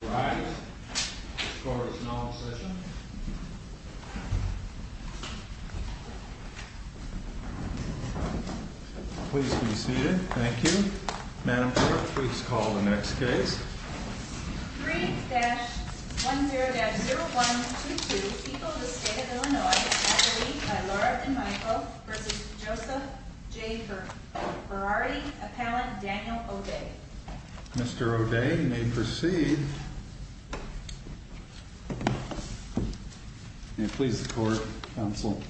Mr. Berardi, appellant Daniel O'Day. Mr. O'Day, you may proceed. May it please the court, counsel.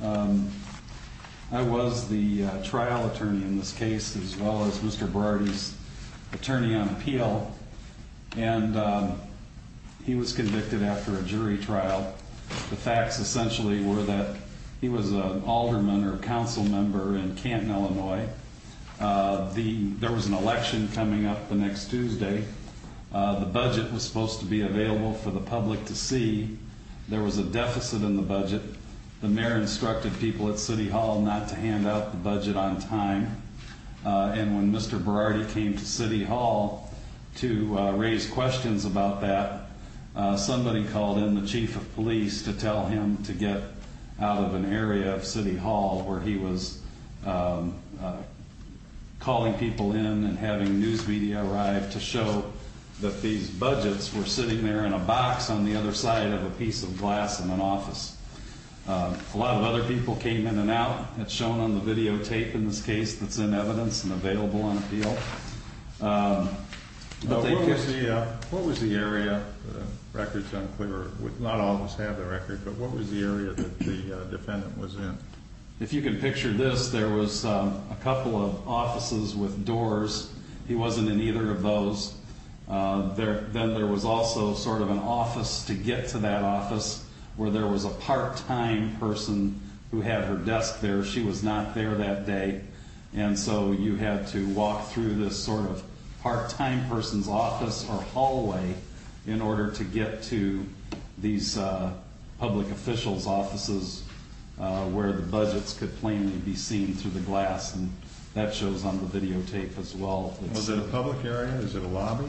I was the trial attorney in this case, as well as Mr. Berardi's attorney on appeal. And he was convicted after a jury trial. The facts essentially were that he was an alderman or a council member in Canton, Illinois. There was an election coming up the next Tuesday. The budget was supposed to be available for the public to see. There was a deficit in the budget. The mayor instructed people at City Hall not to hand out the budget on time. And when Mr. Berardi came to City Hall to raise questions about that, somebody called in the chief of police to tell him to get out of an area of City Hall where he was calling people in and having news media arrive to show that these budgets were sitting there in a box on the other side of a piece of glass in an office. A lot of other people came in and out. It's shown on the videotape in this case that's in evidence and available on appeal. What was the area? The record's unclear. Not all of us have the record, but what was the area that the defendant was in? If you can picture this, there was a couple of offices with doors. He wasn't in either of those. Then there was also sort of an office to get to that office where there was a part-time person who had her desk there. She was not there that day. And so you had to walk through this sort of part-time person's office or hallway in order to get to these public officials' offices where the budgets could plainly be seen through the glass, and that shows on the videotape as well. Was it a public area? Is it a lobby?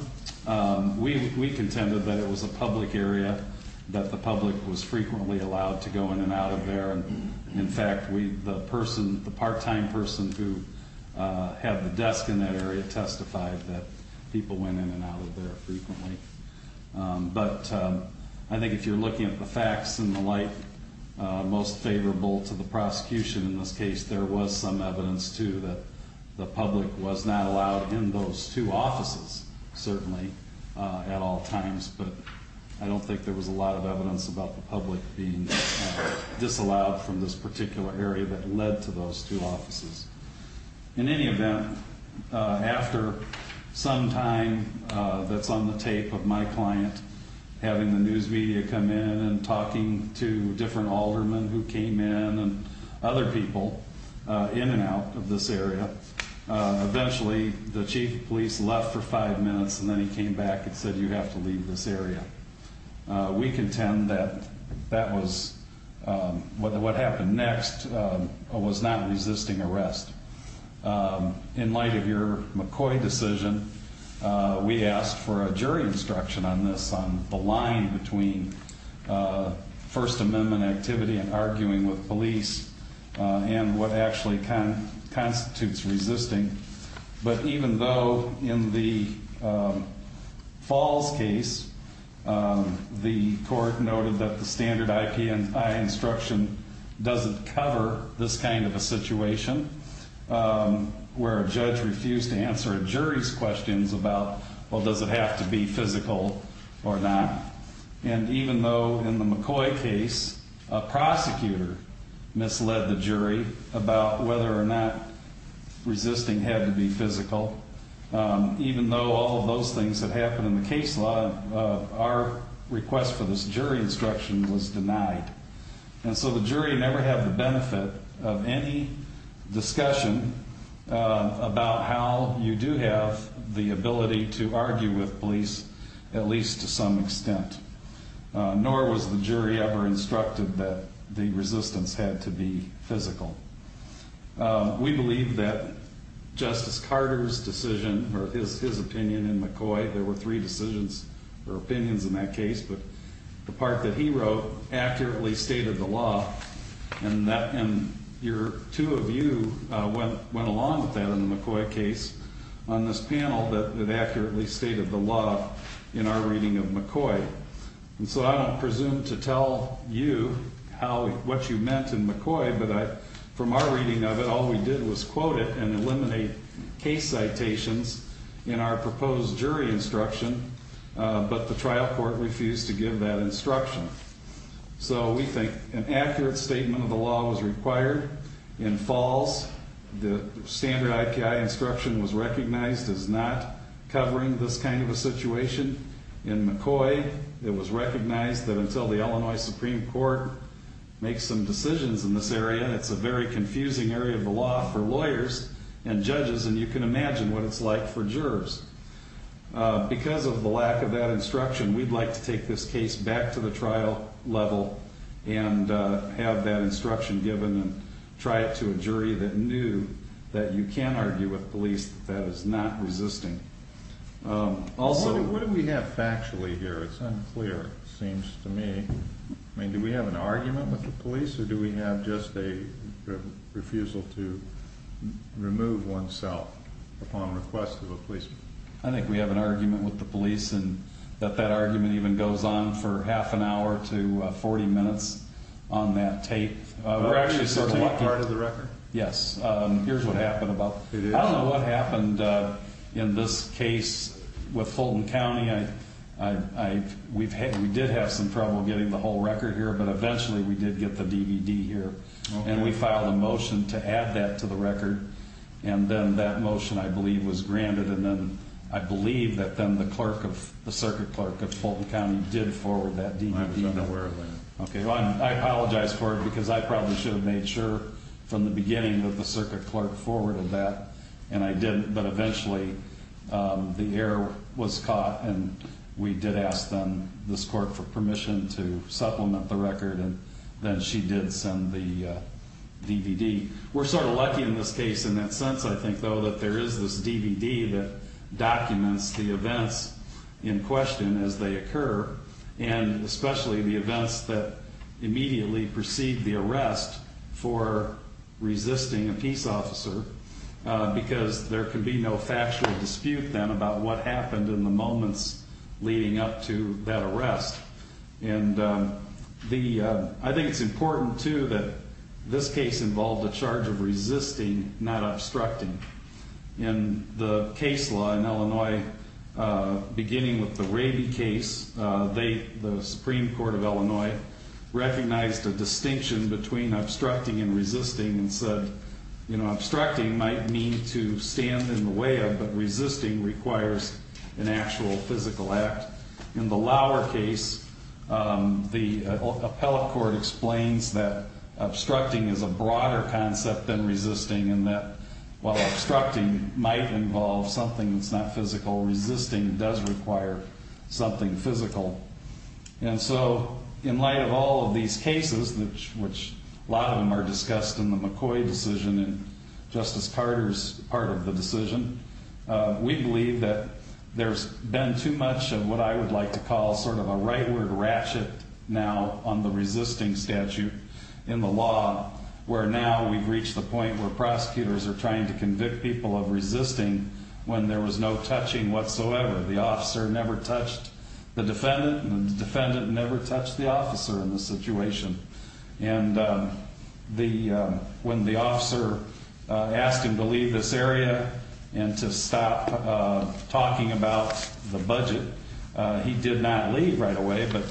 We contended that it was a public area, that the public was frequently allowed to go in and out of there. In fact, the person, the part-time person who had the desk in that area, testified that people went in and out of there frequently. But I think if you're looking at the facts and the like, most favorable to the prosecution in this case, there was some evidence, too, that the public was not allowed in those two offices, certainly, at all times. But I don't think there was a lot of evidence about the public being disallowed from this particular area that led to those two offices. In any event, after some time that's on the tape of my client having the news media come in and talking to different aldermen who came in and other people in and out of this area, eventually the chief of police left for five minutes and then he came back and said, you have to leave this area. We contend that that was, what happened next was not resisting arrest. In light of your McCoy decision, we asked for a jury instruction on this, on the line between First Amendment activity and arguing with police and what actually constitutes resisting. But even though in the Falls case the court noted that the standard IPI instruction doesn't cover this kind of a situation, where a judge refused to answer a jury's questions about, well, does it have to be physical or not. And even though in the McCoy case a prosecutor misled the jury about whether or not resisting had to be physical, even though all of those things had happened in the case law, our request for this jury instruction was denied. And so the jury never had the benefit of any discussion about how you do have the ability to argue with police, at least to some extent. Nor was the jury ever instructed that the resistance had to be physical. We believe that Justice Carter's decision, or his opinion in McCoy, there were three decisions or opinions in that case, but the part that he wrote accurately stated the law. And two of you went along with that in the McCoy case on this panel that accurately stated the law in our reading of McCoy. And so I don't presume to tell you what you meant in McCoy, but from our reading of it, all we did was quote it and eliminate case citations in our proposed jury instruction, but the trial court refused to give that instruction. So we think an accurate statement of the law was required. In Falls, the standard IPI instruction was recognized as not covering this kind of a situation. In McCoy, it was recognized that until the Illinois Supreme Court makes some decisions in this area, it's a very confusing area of the law for lawyers and judges, and you can imagine what it's like for jurors. Because of the lack of that instruction, we'd like to take this case back to the trial level and have that instruction given and try it to a jury that knew that you can argue with police that that is not resisting. What do we have factually here? It's unclear, it seems to me. I mean, do we have an argument with the police or do we have just a refusal to remove one's self upon request of a policeman? I think we have an argument with the police and that that argument even goes on for half an hour to 40 minutes on that tape. We're actually sort of lucky. Is that part of the record? Yes. Here's what happened about it. Fulton County, we did have some trouble getting the whole record here, but eventually we did get the DVD here, and we filed a motion to add that to the record, and then that motion, I believe, was granted, and then I believe that then the circuit clerk of Fulton County did forward that DVD. I'm not aware of that. I apologize for it because I probably should have made sure from the beginning that the circuit clerk forwarded that, and I didn't, but eventually the error was caught, and we did ask them, this court, for permission to supplement the record, and then she did send the DVD. We're sort of lucky in this case in that sense, I think, though, that there is this DVD that documents the events in question as they occur, and especially the events that immediately precede the arrest for resisting a peace officer because there can be no factual dispute then about what happened in the moments leading up to that arrest, and I think it's important, too, that this case involved a charge of resisting, not obstructing. In the case law in Illinois, beginning with the Raby case, the Supreme Court of Illinois recognized a distinction between obstructing and resisting and said, you know, obstructing might mean to stand in the way of, but resisting requires an actual physical act. In the Lauer case, the appellate court explains that obstructing is a broader concept than resisting and that while obstructing might involve something that's not physical, resisting does require something physical. And so in light of all of these cases, which a lot of them are discussed in the McCoy decision and Justice Carter's part of the decision, we believe that there's been too much of what I would like to call sort of a rightward ratchet now on the resisting statute in the law where now we've reached the point where prosecutors are trying to convict people of resisting when there was no touching whatsoever. The officer never touched the defendant and the defendant never touched the officer in this situation. And when the officer asked him to leave this area and to stop talking about the budget, he did not leave right away, but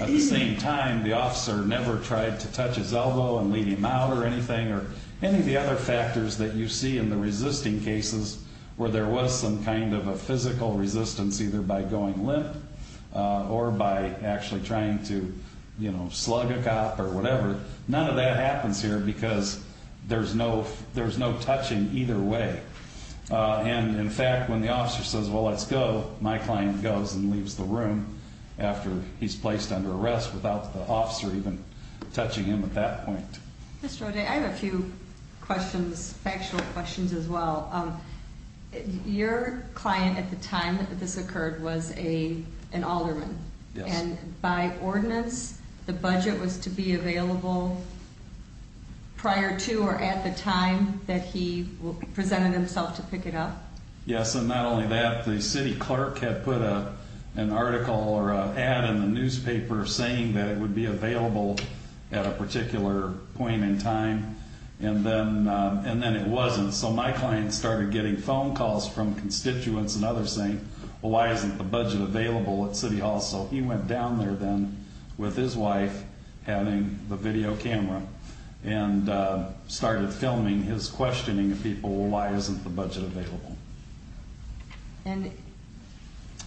at the same time, the officer never tried to touch his elbow and lead him out or anything or any of the other factors that you see in the resisting cases where there was some kind of a physical resistance either by going limp or by actually trying to, you know, slug a cop or whatever. None of that happens here because there's no touching either way. And in fact, when the officer says, well, let's go, my client goes and leaves the room after he's placed under arrest without the officer even touching him at that point. Mr. O'Day, I have a few questions, factual questions as well. Your client at the time that this occurred was an alderman. And by ordinance, the budget was to be available prior to or at the time that he presented himself to pick it up? Yes, and not only that, the city clerk had put an article or an ad in the newspaper saying that it would be available at a particular point in time, and then it wasn't. So my client started getting phone calls from constituents and others saying, well, why isn't the budget available at City Hall? So he went down there then with his wife having the video camera and started filming his questioning of people, well, why isn't the budget available? And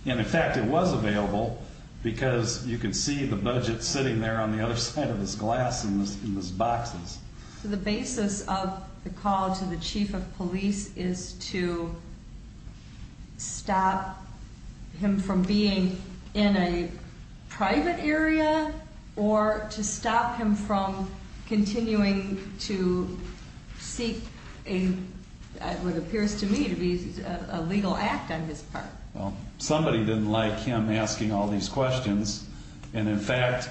in fact, it was available because you could see the budget sitting there on the other side of this glass in these boxes. So the basis of the call to the chief of police is to stop him from being in a private area or to stop him from continuing to seek what appears to me to be a legal act on his part? Well, somebody didn't like him asking all these questions, and in fact,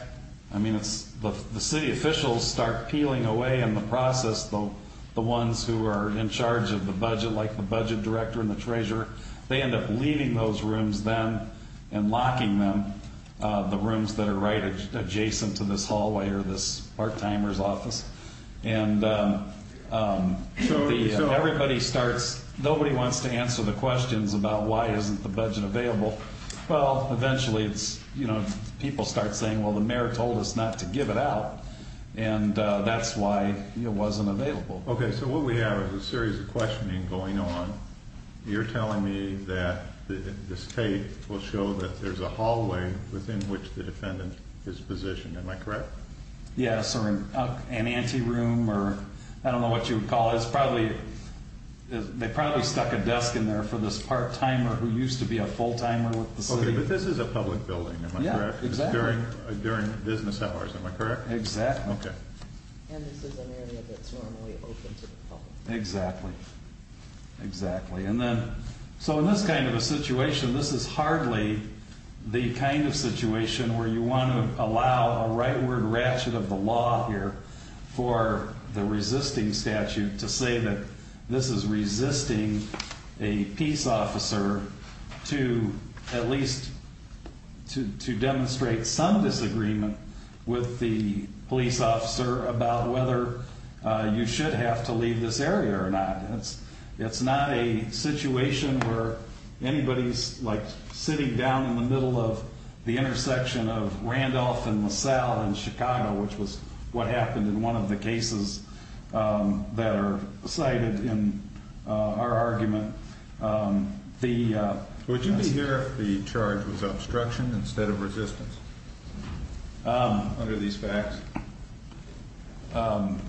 I mean, the city officials start peeling away in the process, the ones who are in charge of the budget, like the budget director and the treasurer, they end up leaving those rooms then and locking them, the rooms that are right adjacent to this hallway or this part-timer's office. And everybody starts, nobody wants to answer the questions about why isn't the budget available. Well, eventually people start saying, well, the mayor told us not to give it out, and that's why it wasn't available. Okay, so what we have is a series of questioning going on. You're telling me that this tape will show that there's a hallway within which the defendant is positioned. Am I correct? Yes, or an ante room or I don't know what you would call it. They probably stuck a desk in there for this part-timer who used to be a full-timer with the city. Okay, but this is a public building, am I correct? Yeah, exactly. During business hours, am I correct? Exactly. Okay. And this is an area that's normally open to the public. Exactly, exactly. And then, so in this kind of a situation, this is hardly the kind of situation where you want to allow a rightward ratchet of the law here for the resisting statute to say that this is resisting a peace officer to at least to demonstrate some disagreement with the police officer about whether you should have to leave this area or not. It's not a situation where anybody's like sitting down in the middle of the intersection of Randolph and LaSalle in Chicago, which was what happened in one of the cases that are cited in our argument. Would you be here if the charge was obstruction instead of resistance under these facts? I'm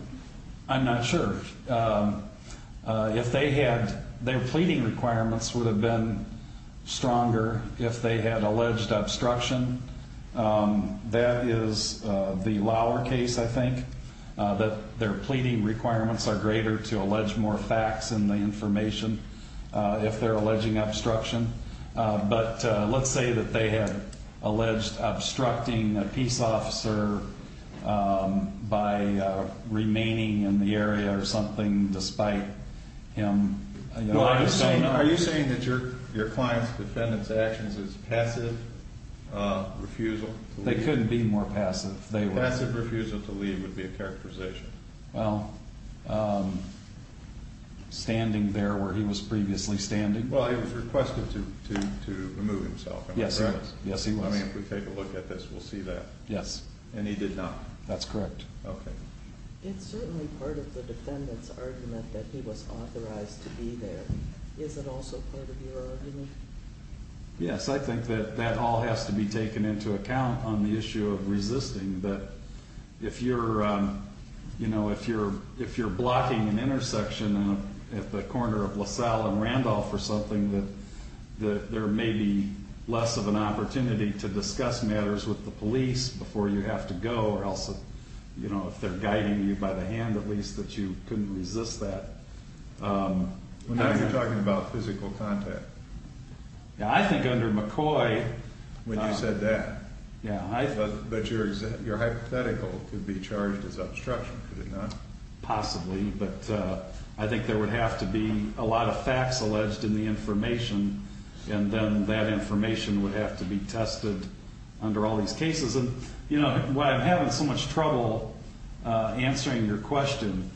not sure. If they had, their pleading requirements would have been stronger if they had alleged obstruction. That is the lower case, I think, that their pleading requirements are greater to allege more facts in the information if they're alleging obstruction. But let's say that they had alleged obstructing a peace officer by remaining in the area or something despite him. Are you saying that your client's defendant's actions is passive refusal? They couldn't be more passive. Passive refusal to leave would be a characterization. Well, standing there where he was previously standing. Well, he was requested to remove himself. Yes, he was. I mean, if we take a look at this, we'll see that. Yes. And he did not. That's correct. Okay. It's certainly part of the defendant's argument that he was authorized to be there. Is it also part of your argument? Yes, I think that that all has to be taken into account on the issue of resisting. That if you're blocking an intersection at the corner of LaSalle and Randolph or something, that there may be less of an opportunity to discuss matters with the police before you have to go. Or else if they're guiding you by the hand, at least, that you couldn't resist that. Now you're talking about physical contact. I think under McCoy. When you said that. But your hypothetical would be charged as obstruction, could it not? Possibly. But I think there would have to be a lot of facts alleged in the information. And then that information would have to be tested under all these cases. And, you know, why I'm having so much trouble answering your question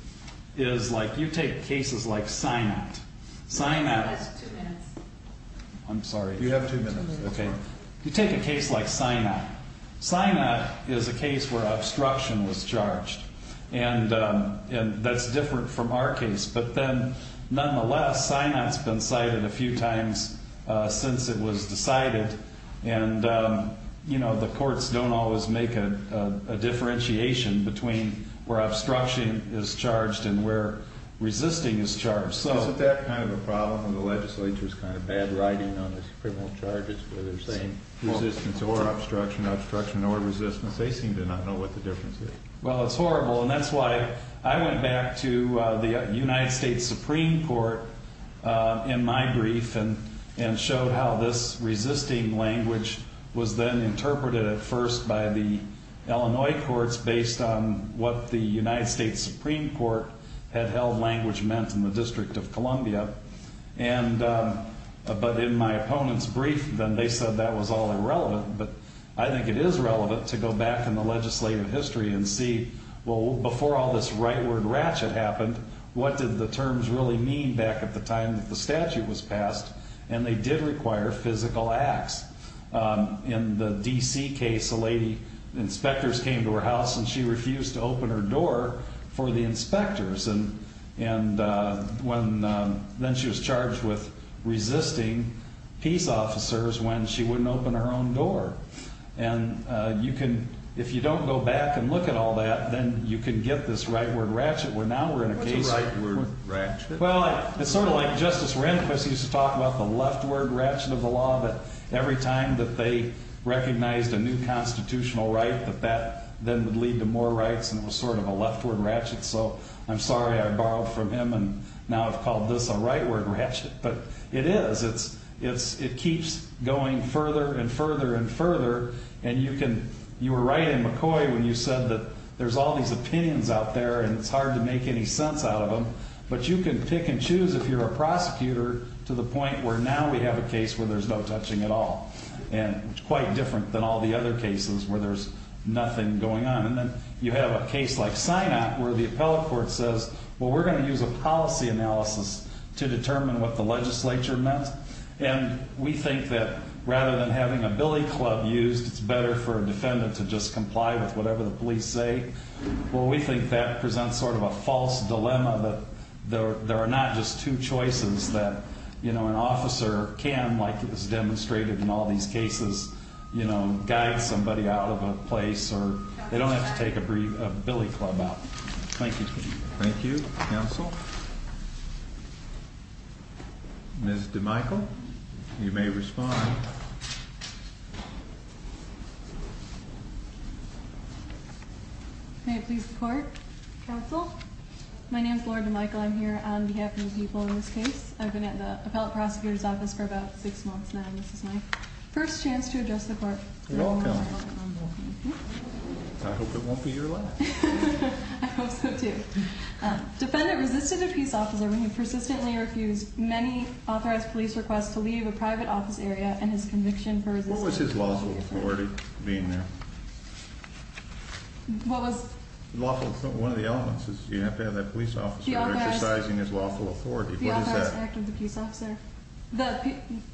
is, like, you take cases like Sinott. Sinott. You have two minutes. I'm sorry. You have two minutes. That's fine. You take a case like Sinott. Sinott is a case where obstruction was charged. And that's different from our case. But then, nonetheless, Sinott's been cited a few times since it was decided. And, you know, the courts don't always make a differentiation between where obstruction is charged and where resisting is charged. Isn't that kind of a problem when the legislature's kind of bad writing on the criminal charges where they're saying resistance or obstruction, obstruction or resistance? They seem to not know what the difference is. Well, it's horrible. And that's why I went back to the United States Supreme Court in my brief and showed how this resisting language was then interpreted at first by the Illinois courts based on what the United States Supreme Court had held language meant in the District of Columbia. But in my opponent's brief, then, they said that was all irrelevant. But I think it is relevant to go back in the legislative history and see, well, before all this rightward ratchet happened, what did the terms really mean back at the time that the statute was passed? And they did require physical acts. In the D.C. case, a lady, inspectors came to her house and she refused to open her door for the inspectors. And then she was charged with resisting peace officers when she wouldn't open her own door. And you can, if you don't go back and look at all that, then you can get this rightward ratchet where now we're in a case. What's a rightward ratchet? Well, it's sort of like Justice Rehnquist used to talk about the leftward ratchet of the law. But every time that they recognized a new constitutional right, that that then would lead to more rights, and it was sort of a leftward ratchet. So I'm sorry I borrowed from him, and now I've called this a rightward ratchet. But it is. It keeps going further and further and further. And you were right in McCoy when you said that there's all these opinions out there and it's hard to make any sense out of them. But you can pick and choose if you're a prosecutor to the point where now we have a case where there's no touching at all. And it's quite different than all the other cases where there's nothing going on. And then you have a case like Sinott where the appellate court says, well, we're going to use a policy analysis to determine what the legislature meant. And we think that rather than having a billy club used, it's better for a defendant to just comply with whatever the police say. Well, we think that presents sort of a false dilemma that there are not just two choices that an officer can, like it was demonstrated in all these cases, guide somebody out of a place or they don't have to take a billy club out. Thank you. Thank you, counsel. Ms. DeMichel, you may respond. May it please the court, counsel. My name is Laura DeMichel. I'm here on behalf of the people in this case. I've been at the appellate prosecutor's office for about six months now, and this is my first chance to address the court. Welcome. I hope it won't be your last. I hope so, too. Defendant resisted a peace officer when he persistently refused many authorized police requests to leave a private office area and his conviction for resisting. What was his lawful authority being there? What was? Lawful authority. One of the elements is you have to have that police officer exercising his lawful authority. What is that? The authorized act of the peace officer.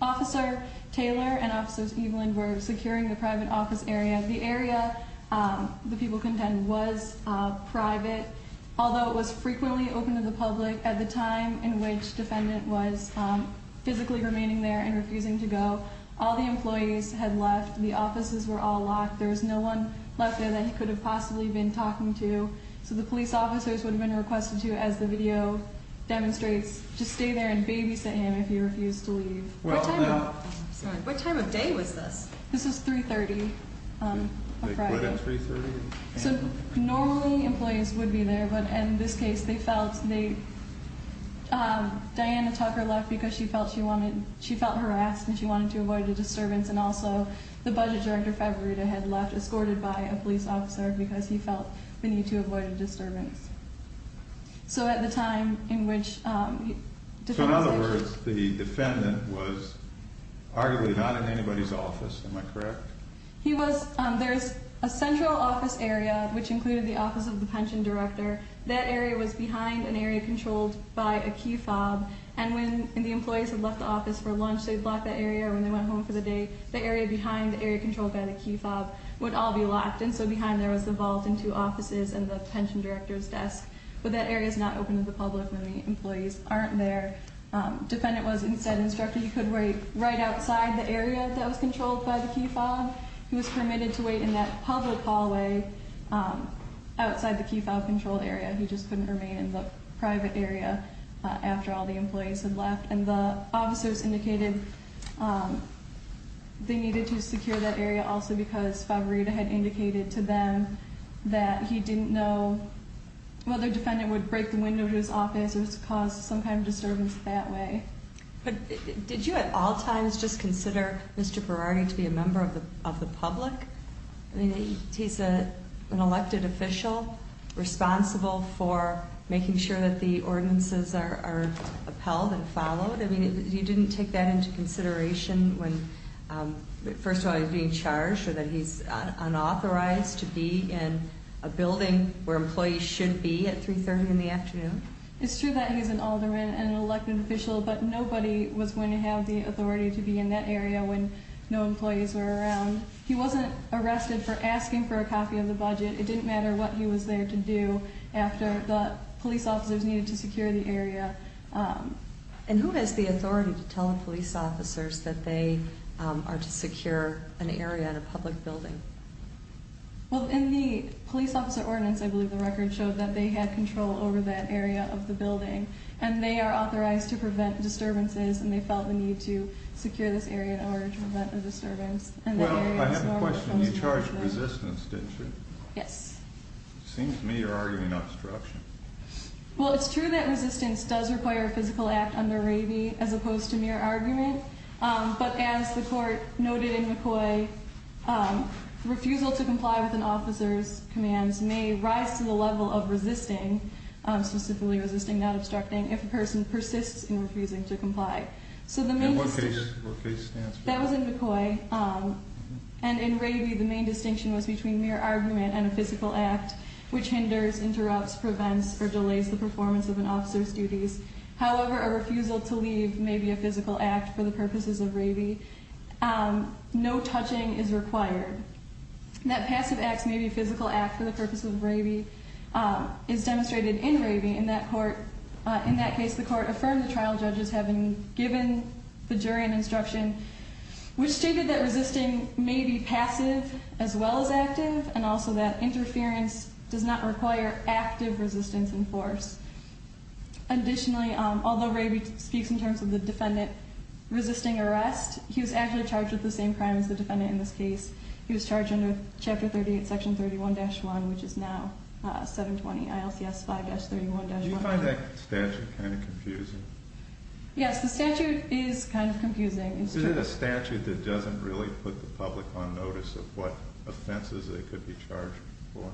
Officer Taylor and Officers Eveland were securing the private office area. The area, the people contend, was private, although it was frequently open to the public at the time in which defendant was physically remaining there and refusing to go. All the employees had left. The offices were all locked. There was no one left there that he could have possibly been talking to. So the police officers would have been requested to, as the video demonstrates, just stay there and babysit him if he refused to leave. What time of day was this? This was 3.30 on Friday. They quit at 3.30? So normally employees would be there, but in this case they felt they, Diana Tucker left because she felt she wanted, she felt harassed and she wanted to avoid a disturbance, and also the budget director, Fabrita, had left, escorted by a police officer, because he felt the need to avoid a disturbance. So at the time in which defendant. In other words, the defendant was arguably not in anybody's office. Am I correct? He was. There's a central office area, which included the office of the pension director. That area was behind an area controlled by a key fob, and when the employees had left the office for lunch, they'd block that area, or when they went home for the day, the area behind, the area controlled by the key fob, would all be locked, and so behind there was the vault and two offices and the pension director's desk. But that area is not open to the public, and the employees aren't there. Defendant was instead instructed he could wait right outside the area that was controlled by the key fob. He was permitted to wait in that public hallway outside the key fob controlled area. He just couldn't remain in the private area after all the employees had left. And the officers indicated they needed to secure that area also because Fabarita had indicated to them that he didn't know whether defendant would break the window to his office or cause some kind of disturbance that way. But did you at all times just consider Mr. Berardi to be a member of the public? I mean, he's an elected official responsible for making sure that the ordinances are upheld and followed. I mean, you didn't take that into consideration when, first of all, he's being charged or that he's unauthorized to be in a building where employees should be at 3.30 in the afternoon? It's true that he's an alderman and an elected official, but nobody was going to have the authority to be in that area when no employees were around. He wasn't arrested for asking for a copy of the budget. It didn't matter what he was there to do after the police officers needed to secure the area. And who has the authority to tell the police officers that they are to secure an area in a public building? Well, in the police officer ordinance, I believe the record showed that they had control over that area of the building. And they are authorized to prevent disturbances, and they felt the need to secure this area in order to prevent a disturbance. Well, I have a question. You charged resistance, didn't you? Yes. It seems to me you're arguing obstruction. Well, it's true that resistance does require a physical act under Ravy as opposed to mere argument. But as the court noted in McCoy, refusal to comply with an officer's commands may rise to the level of resisting, specifically resisting not obstructing, if a person persists in refusing to comply. And what case stands for that? That was in McCoy. And in Ravy, the main distinction was between mere argument and a physical act, which hinders, interrupts, prevents, or delays the performance of an officer's duties. However, a refusal to leave may be a physical act for the purposes of Ravy. No touching is required. That passive act may be a physical act for the purposes of Ravy is demonstrated in Ravy in that court. In that case, the court affirmed the trial judges having given the jury an instruction, which stated that resisting may be passive as well as active, and also that interference does not require active resistance in force. Additionally, although Ravy speaks in terms of the defendant resisting arrest, he was actually charged with the same crime as the defendant in this case. He was charged under Chapter 38, Section 31-1, which is now 720 ILCS 5-31-1. Do you find that statute kind of confusing? Yes, the statute is kind of confusing. Is it a statute that doesn't really put the public on notice of what offenses they could be charged for?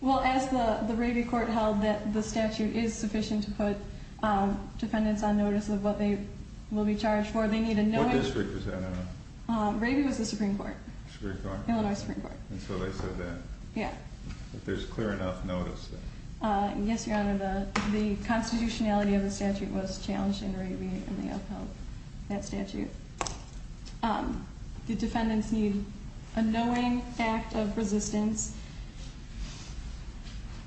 Well, as the Ravy court held that the statute is sufficient to put defendants on notice of what they will be charged for, they need a knowing... What district was that, I don't know. Ravy was the Supreme Court. Supreme Court. Illinois Supreme Court. And so they said that. Yeah. If there's clear enough notice. Yes, Your Honor, the constitutionality of the statute was challenged in Ravy and they upheld that statute. The defendants need a knowing act of resistance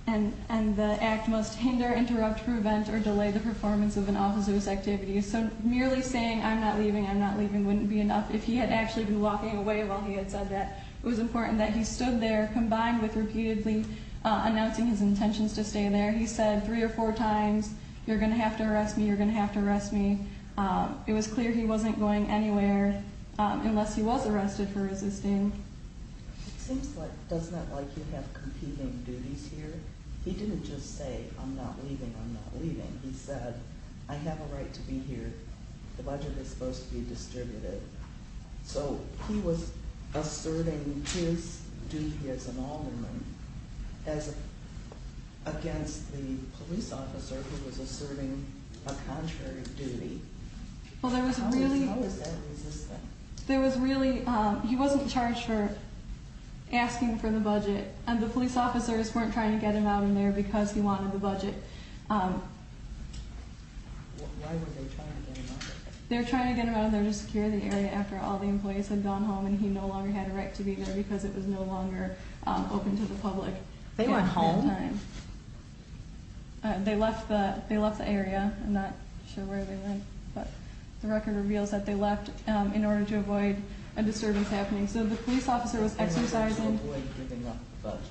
and the act must hinder, interrupt, prevent, or delay the performance of an offensive activity. So merely saying, I'm not leaving, I'm not leaving, wouldn't be enough. If he had actually been walking away while he had said that, it was important that he stood there combined with repeatedly announcing his intentions to stay there. He said three or four times, you're going to have to arrest me, you're going to have to arrest me. It was clear he wasn't going anywhere unless he was arrested for resisting. It seems like, doesn't that make you have competing duties here? He didn't just say, I'm not leaving, I'm not leaving. He said, I have a right to be here. The budget is supposed to be distributed. So he was asserting his duty as an alderman against the police officer who was asserting a contrary duty. How is that resisting? He wasn't charged for asking for the budget and the police officers weren't trying to get him out in there because he wanted the budget. Why were they trying to get him out? They were trying to get him out in there to secure the area after all the employees had gone home and he no longer had a right to be there because it was no longer open to the public. They went home? They left the area. I'm not sure where they went, but the record reveals that they left in order to avoid a disturbance happening. So the police officer was exercising. In order to avoid giving up the budget.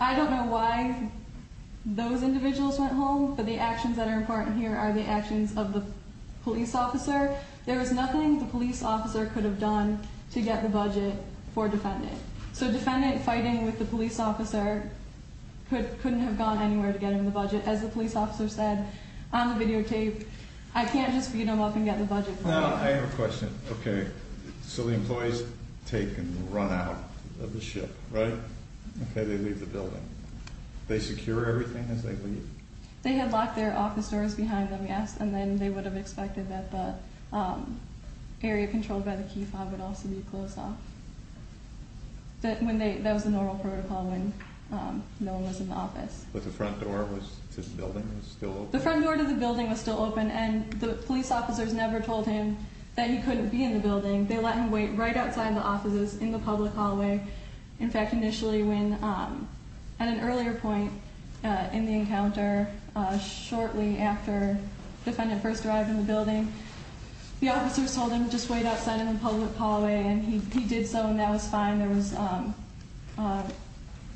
I don't know why those individuals went home, but the actions that are important here are the actions of the police officer. There was nothing the police officer could have done to get the budget for a defendant. So a defendant fighting with the police officer couldn't have gone anywhere to get him the budget. As the police officer said on the videotape, I can't just beat him up and get the budget. I have a question. Okay, so the employees take and run out of the ship, right? Okay, they leave the building. They secure everything as they leave? They had locked their office doors behind them, yes, and then they would have expected that the area controlled by the key fob would also be closed off. That was the normal protocol when no one was in the office. But the front door to the building was still open? And the police officers never told him that he couldn't be in the building. They let him wait right outside the offices in the public hallway. In fact, initially when at an earlier point in the encounter, shortly after the defendant first arrived in the building. The officers told him just wait outside in the public hallway and he did so and that was fine. There was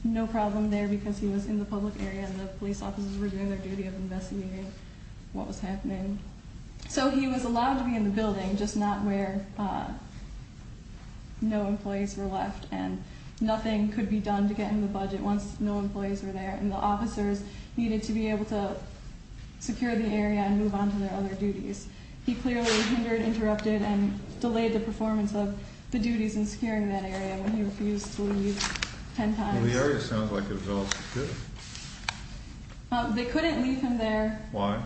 no problem there because he was in the public area. And the police officers were doing their duty of investigating what was happening. So he was allowed to be in the building, just not where no employees were left. And nothing could be done to get him the budget once no employees were there. And the officers needed to be able to secure the area and move on to their other duties. He clearly hindered, interrupted, and delayed the performance of the duties in securing that area when he refused to leave ten times. The area sounds like it was all secure. They couldn't leave him there. Why?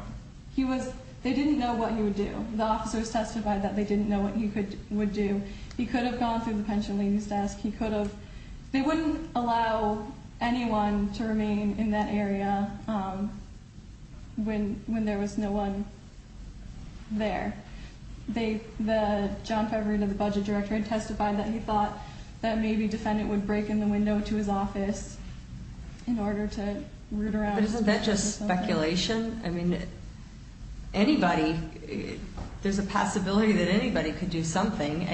They didn't know what he would do. The officers testified that they didn't know what he would do. He could have gone through the pension ladies desk. They wouldn't allow anyone to remain in that area when there was no one there. The budget director testified that he thought that maybe defendant would break in the window to his office in order to root around. Isn't that just speculation? I mean, anybody, there's a possibility that anybody could do something.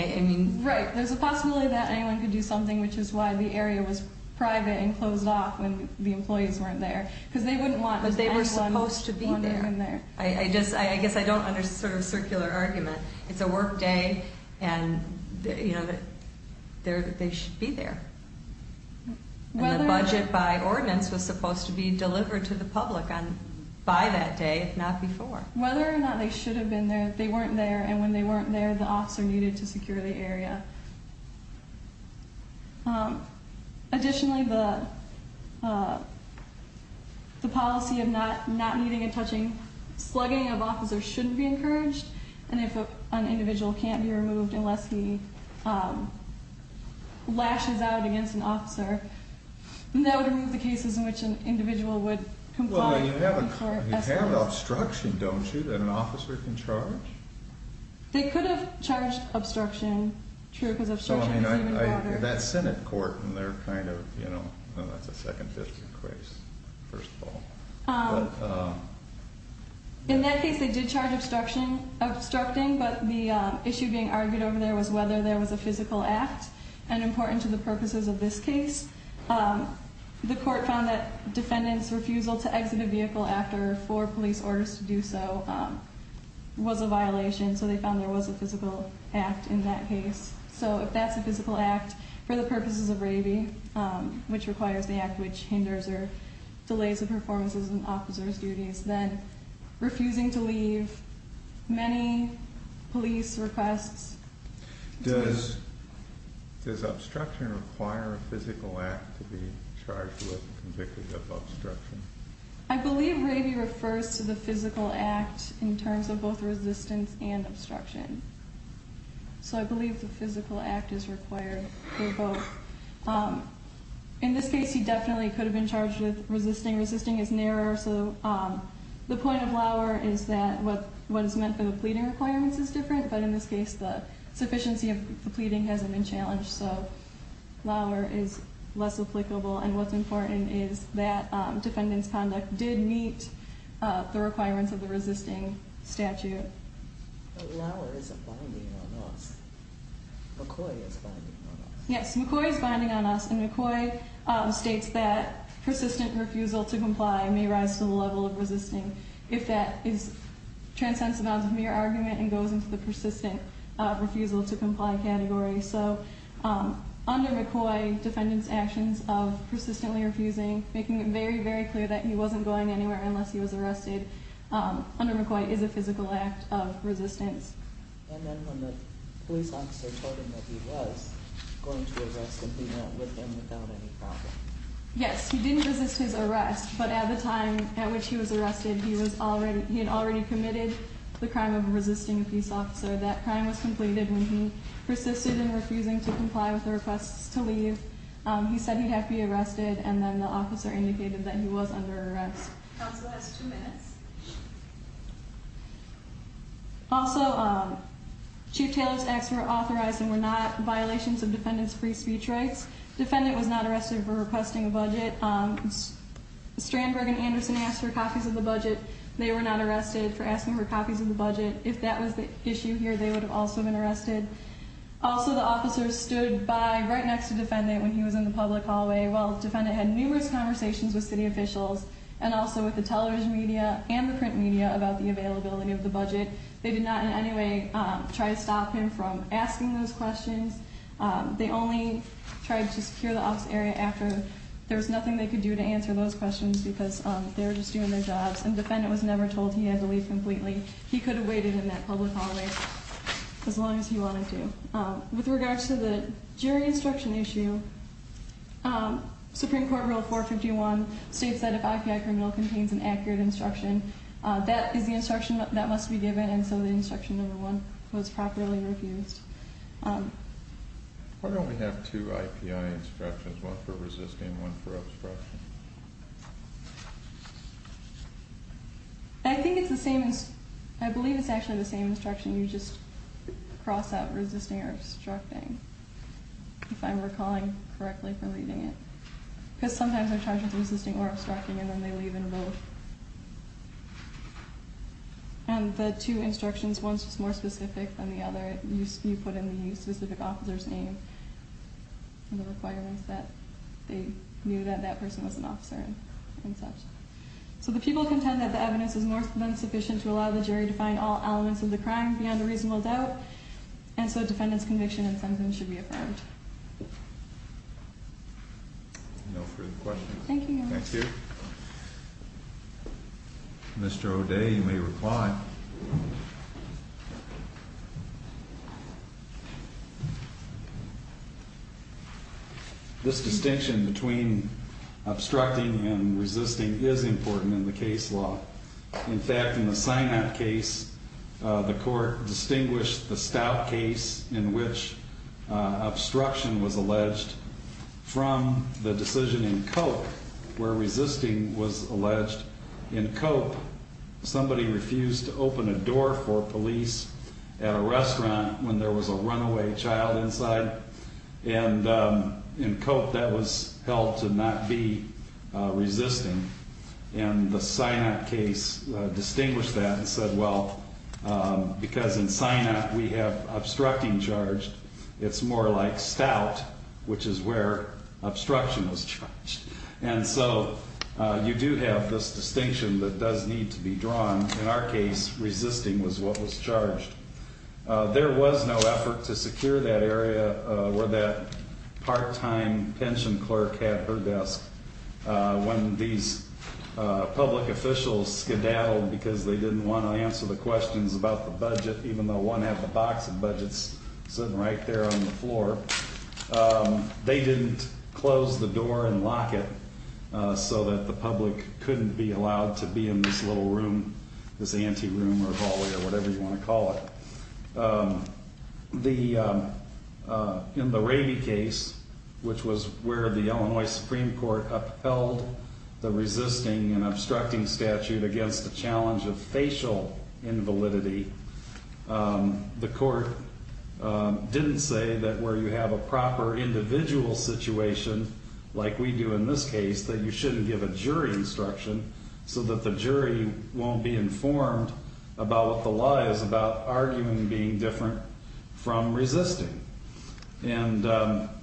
Right. There's a possibility that anyone could do something, which is why the area was private and closed off when the employees weren't there. Because they wouldn't want anyone in there. But they were supposed to be there. I guess I don't understand the circular argument. It's a work day, and they should be there. And the budget by ordinance was supposed to be delivered to the public by that day, if not before. Whether or not they should have been there, they weren't there, and when they weren't there, the officer needed to secure the area. Additionally, the policy of not meeting and touching slugging of officers shouldn't be encouraged. And if an individual can't be removed unless he lashes out against an officer, that would remove the cases in which an individual would comply. You have obstruction, don't you, that an officer can charge? They could have charged obstruction, true, because obstruction is even broader. That's Senate court, and they're kind of, you know, that's a second-fifth case, first of all. In that case, they did charge obstructing, but the issue being argued over there was whether there was a physical act, and important to the purposes of this case. The court found that defendant's refusal to exit a vehicle after four police orders to do so was a violation, so they found there was a physical act in that case. So if that's a physical act for the purposes of raving, which requires the act which hinders or delays the performance of an officer's duties, then refusing to leave many police requests is good. Does obstruction require a physical act to be charged with and convicted of obstruction? I believe raving refers to the physical act in terms of both resistance and obstruction. So I believe the physical act is required for both. In this case, he definitely could have been charged with resisting. Resisting is narrower, so the point of Lauer is that what is meant for the pleading requirements is different, but in this case, the sufficiency of the pleading hasn't been challenged, so Lauer is less applicable, and what's important is that defendant's conduct did meet the requirements of the resisting statute. But Lauer isn't bonding on us. McCoy is bonding on us. Yes, McCoy is bonding on us, and McCoy states that persistent refusal to comply may rise to the level of resisting if that transcends the bounds of mere argument and goes into the persistent refusal to comply category. So under McCoy, defendant's actions of persistently refusing, making it very, very clear that he wasn't going anywhere unless he was arrested, under McCoy is a physical act of resistance. And then when the police officer told him that he was going to arrest him, he went with him without any problem? Yes, he didn't resist his arrest, but at the time at which he was arrested, he had already committed the crime of resisting a police officer. That crime was completed when he persisted in refusing to comply with the requests to leave. He said he'd have to be arrested, and then the officer indicated that he was under arrest. Counsel has two minutes. Also, Chief Taylor's acts were authorized and were not violations of defendant's free speech rights. Defendant was not arrested for requesting a budget. Strandberg and Anderson asked for copies of the budget. They were not arrested for asking for copies of the budget. If that was the issue here, they would have also been arrested. Also, the officer stood by right next to defendant when he was in the public hallway while defendant had numerous conversations with city officials and also with the television media and the print media about the availability of the budget. They did not in any way try to stop him from asking those questions. They only tried to secure the office area after. There was nothing they could do to answer those questions because they were just doing their jobs, and defendant was never told he had to leave completely. He could have waited in that public hallway as long as he wanted to. With regards to the jury instruction issue, Supreme Court Rule 451 states that if IPI criminal contains an accurate instruction, that is the instruction that must be given, and so the instruction number one was properly refused. Why don't we have two IPI instructions, one for resisting and one for obstruction? I think it's the same. I believe it's actually the same instruction. You just cross out resisting or obstructing, if I'm recalling correctly, for leaving it. Because sometimes they're charged with resisting or obstructing, and then they leave and vote. And the two instructions, one's just more specific than the other. You put in the specific officer's name and the requirements that they knew that that person was an officer and such. So the people contend that the evidence is more than sufficient to allow the jury to find all elements of the crime beyond a reasonable doubt, and so defendant's conviction and sentencing should be affirmed. No further questions. Thank you. Thank you. Mr. O'Day, you may reply. This distinction between obstructing and resisting is important in the case law. In fact, in the Synop case, the court distinguished the Stout case in which obstruction was alleged from the decision in Cope where resisting was alleged. In Cope, somebody refused to open a door for police at a restaurant when there was a runaway child inside. And in Cope, that was held to not be resisting. And the Synop case distinguished that and said, well, because in Synop we have obstructing charged, it's more like Stout, which is where obstruction was charged. And so you do have this distinction that does need to be drawn. In our case, resisting was what was charged. There was no effort to secure that area where that part-time pension clerk had her desk when these public officials skedaddled because they didn't want to answer the questions about the budget, even though one had the box of budgets sitting right there on the floor. They didn't close the door and lock it so that the public couldn't be allowed to be in this little room, this anti-room or hallway or whatever you want to call it. In the Raby case, which was where the Illinois Supreme Court upheld the resisting and obstructing statute against the challenge of facial invalidity, the court didn't say that where you have a proper individual situation, like we do in this case, that you shouldn't give a jury instruction so that the jury won't be informed about what the law is about arguing being different from resisting. And,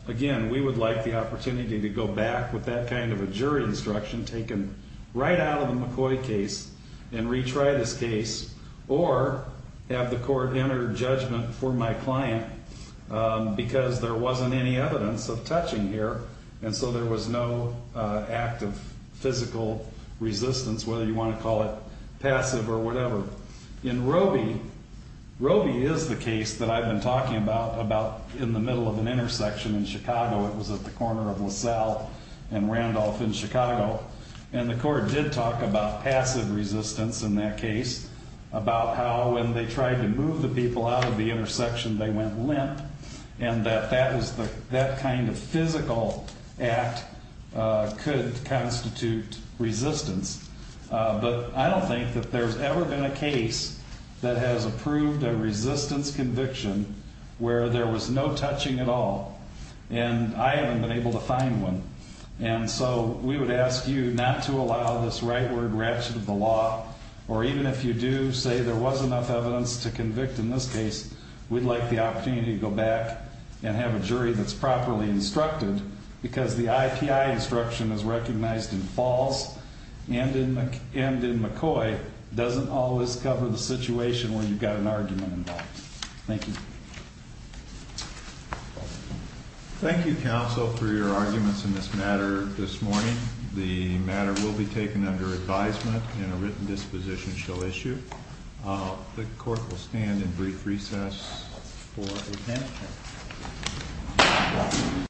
again, we would like the opportunity to go back with that kind of a jury instruction taken right out of the McCoy case and retry this case or have the court enter judgment for my client because there wasn't any evidence of touching here and so there was no act of physical resistance, whether you want to call it passive or whatever. In Roby, Roby is the case that I've been talking about in the middle of an intersection in Chicago. It was at the corner of LaSalle and Randolph in Chicago. And the court did talk about passive resistance in that case, about how when they tried to move the people out of the intersection they went limp and that that kind of physical act could constitute resistance. But I don't think that there's ever been a case that has approved a resistance conviction where there was no touching at all. And I haven't been able to find one. And so we would ask you not to allow this rightward ratchet of the law or even if you do say there was enough evidence to convict in this case, we'd like the opportunity to go back and have a jury that's properly instructed because the IPI instruction is recognized in Falls and in McCoy doesn't always cover the situation where you've got an argument involved. Thank you. Thank you, counsel, for your arguments in this matter this morning. The matter will be taken under advisement and a written disposition shall issue. The court will stand in brief recess for a minute.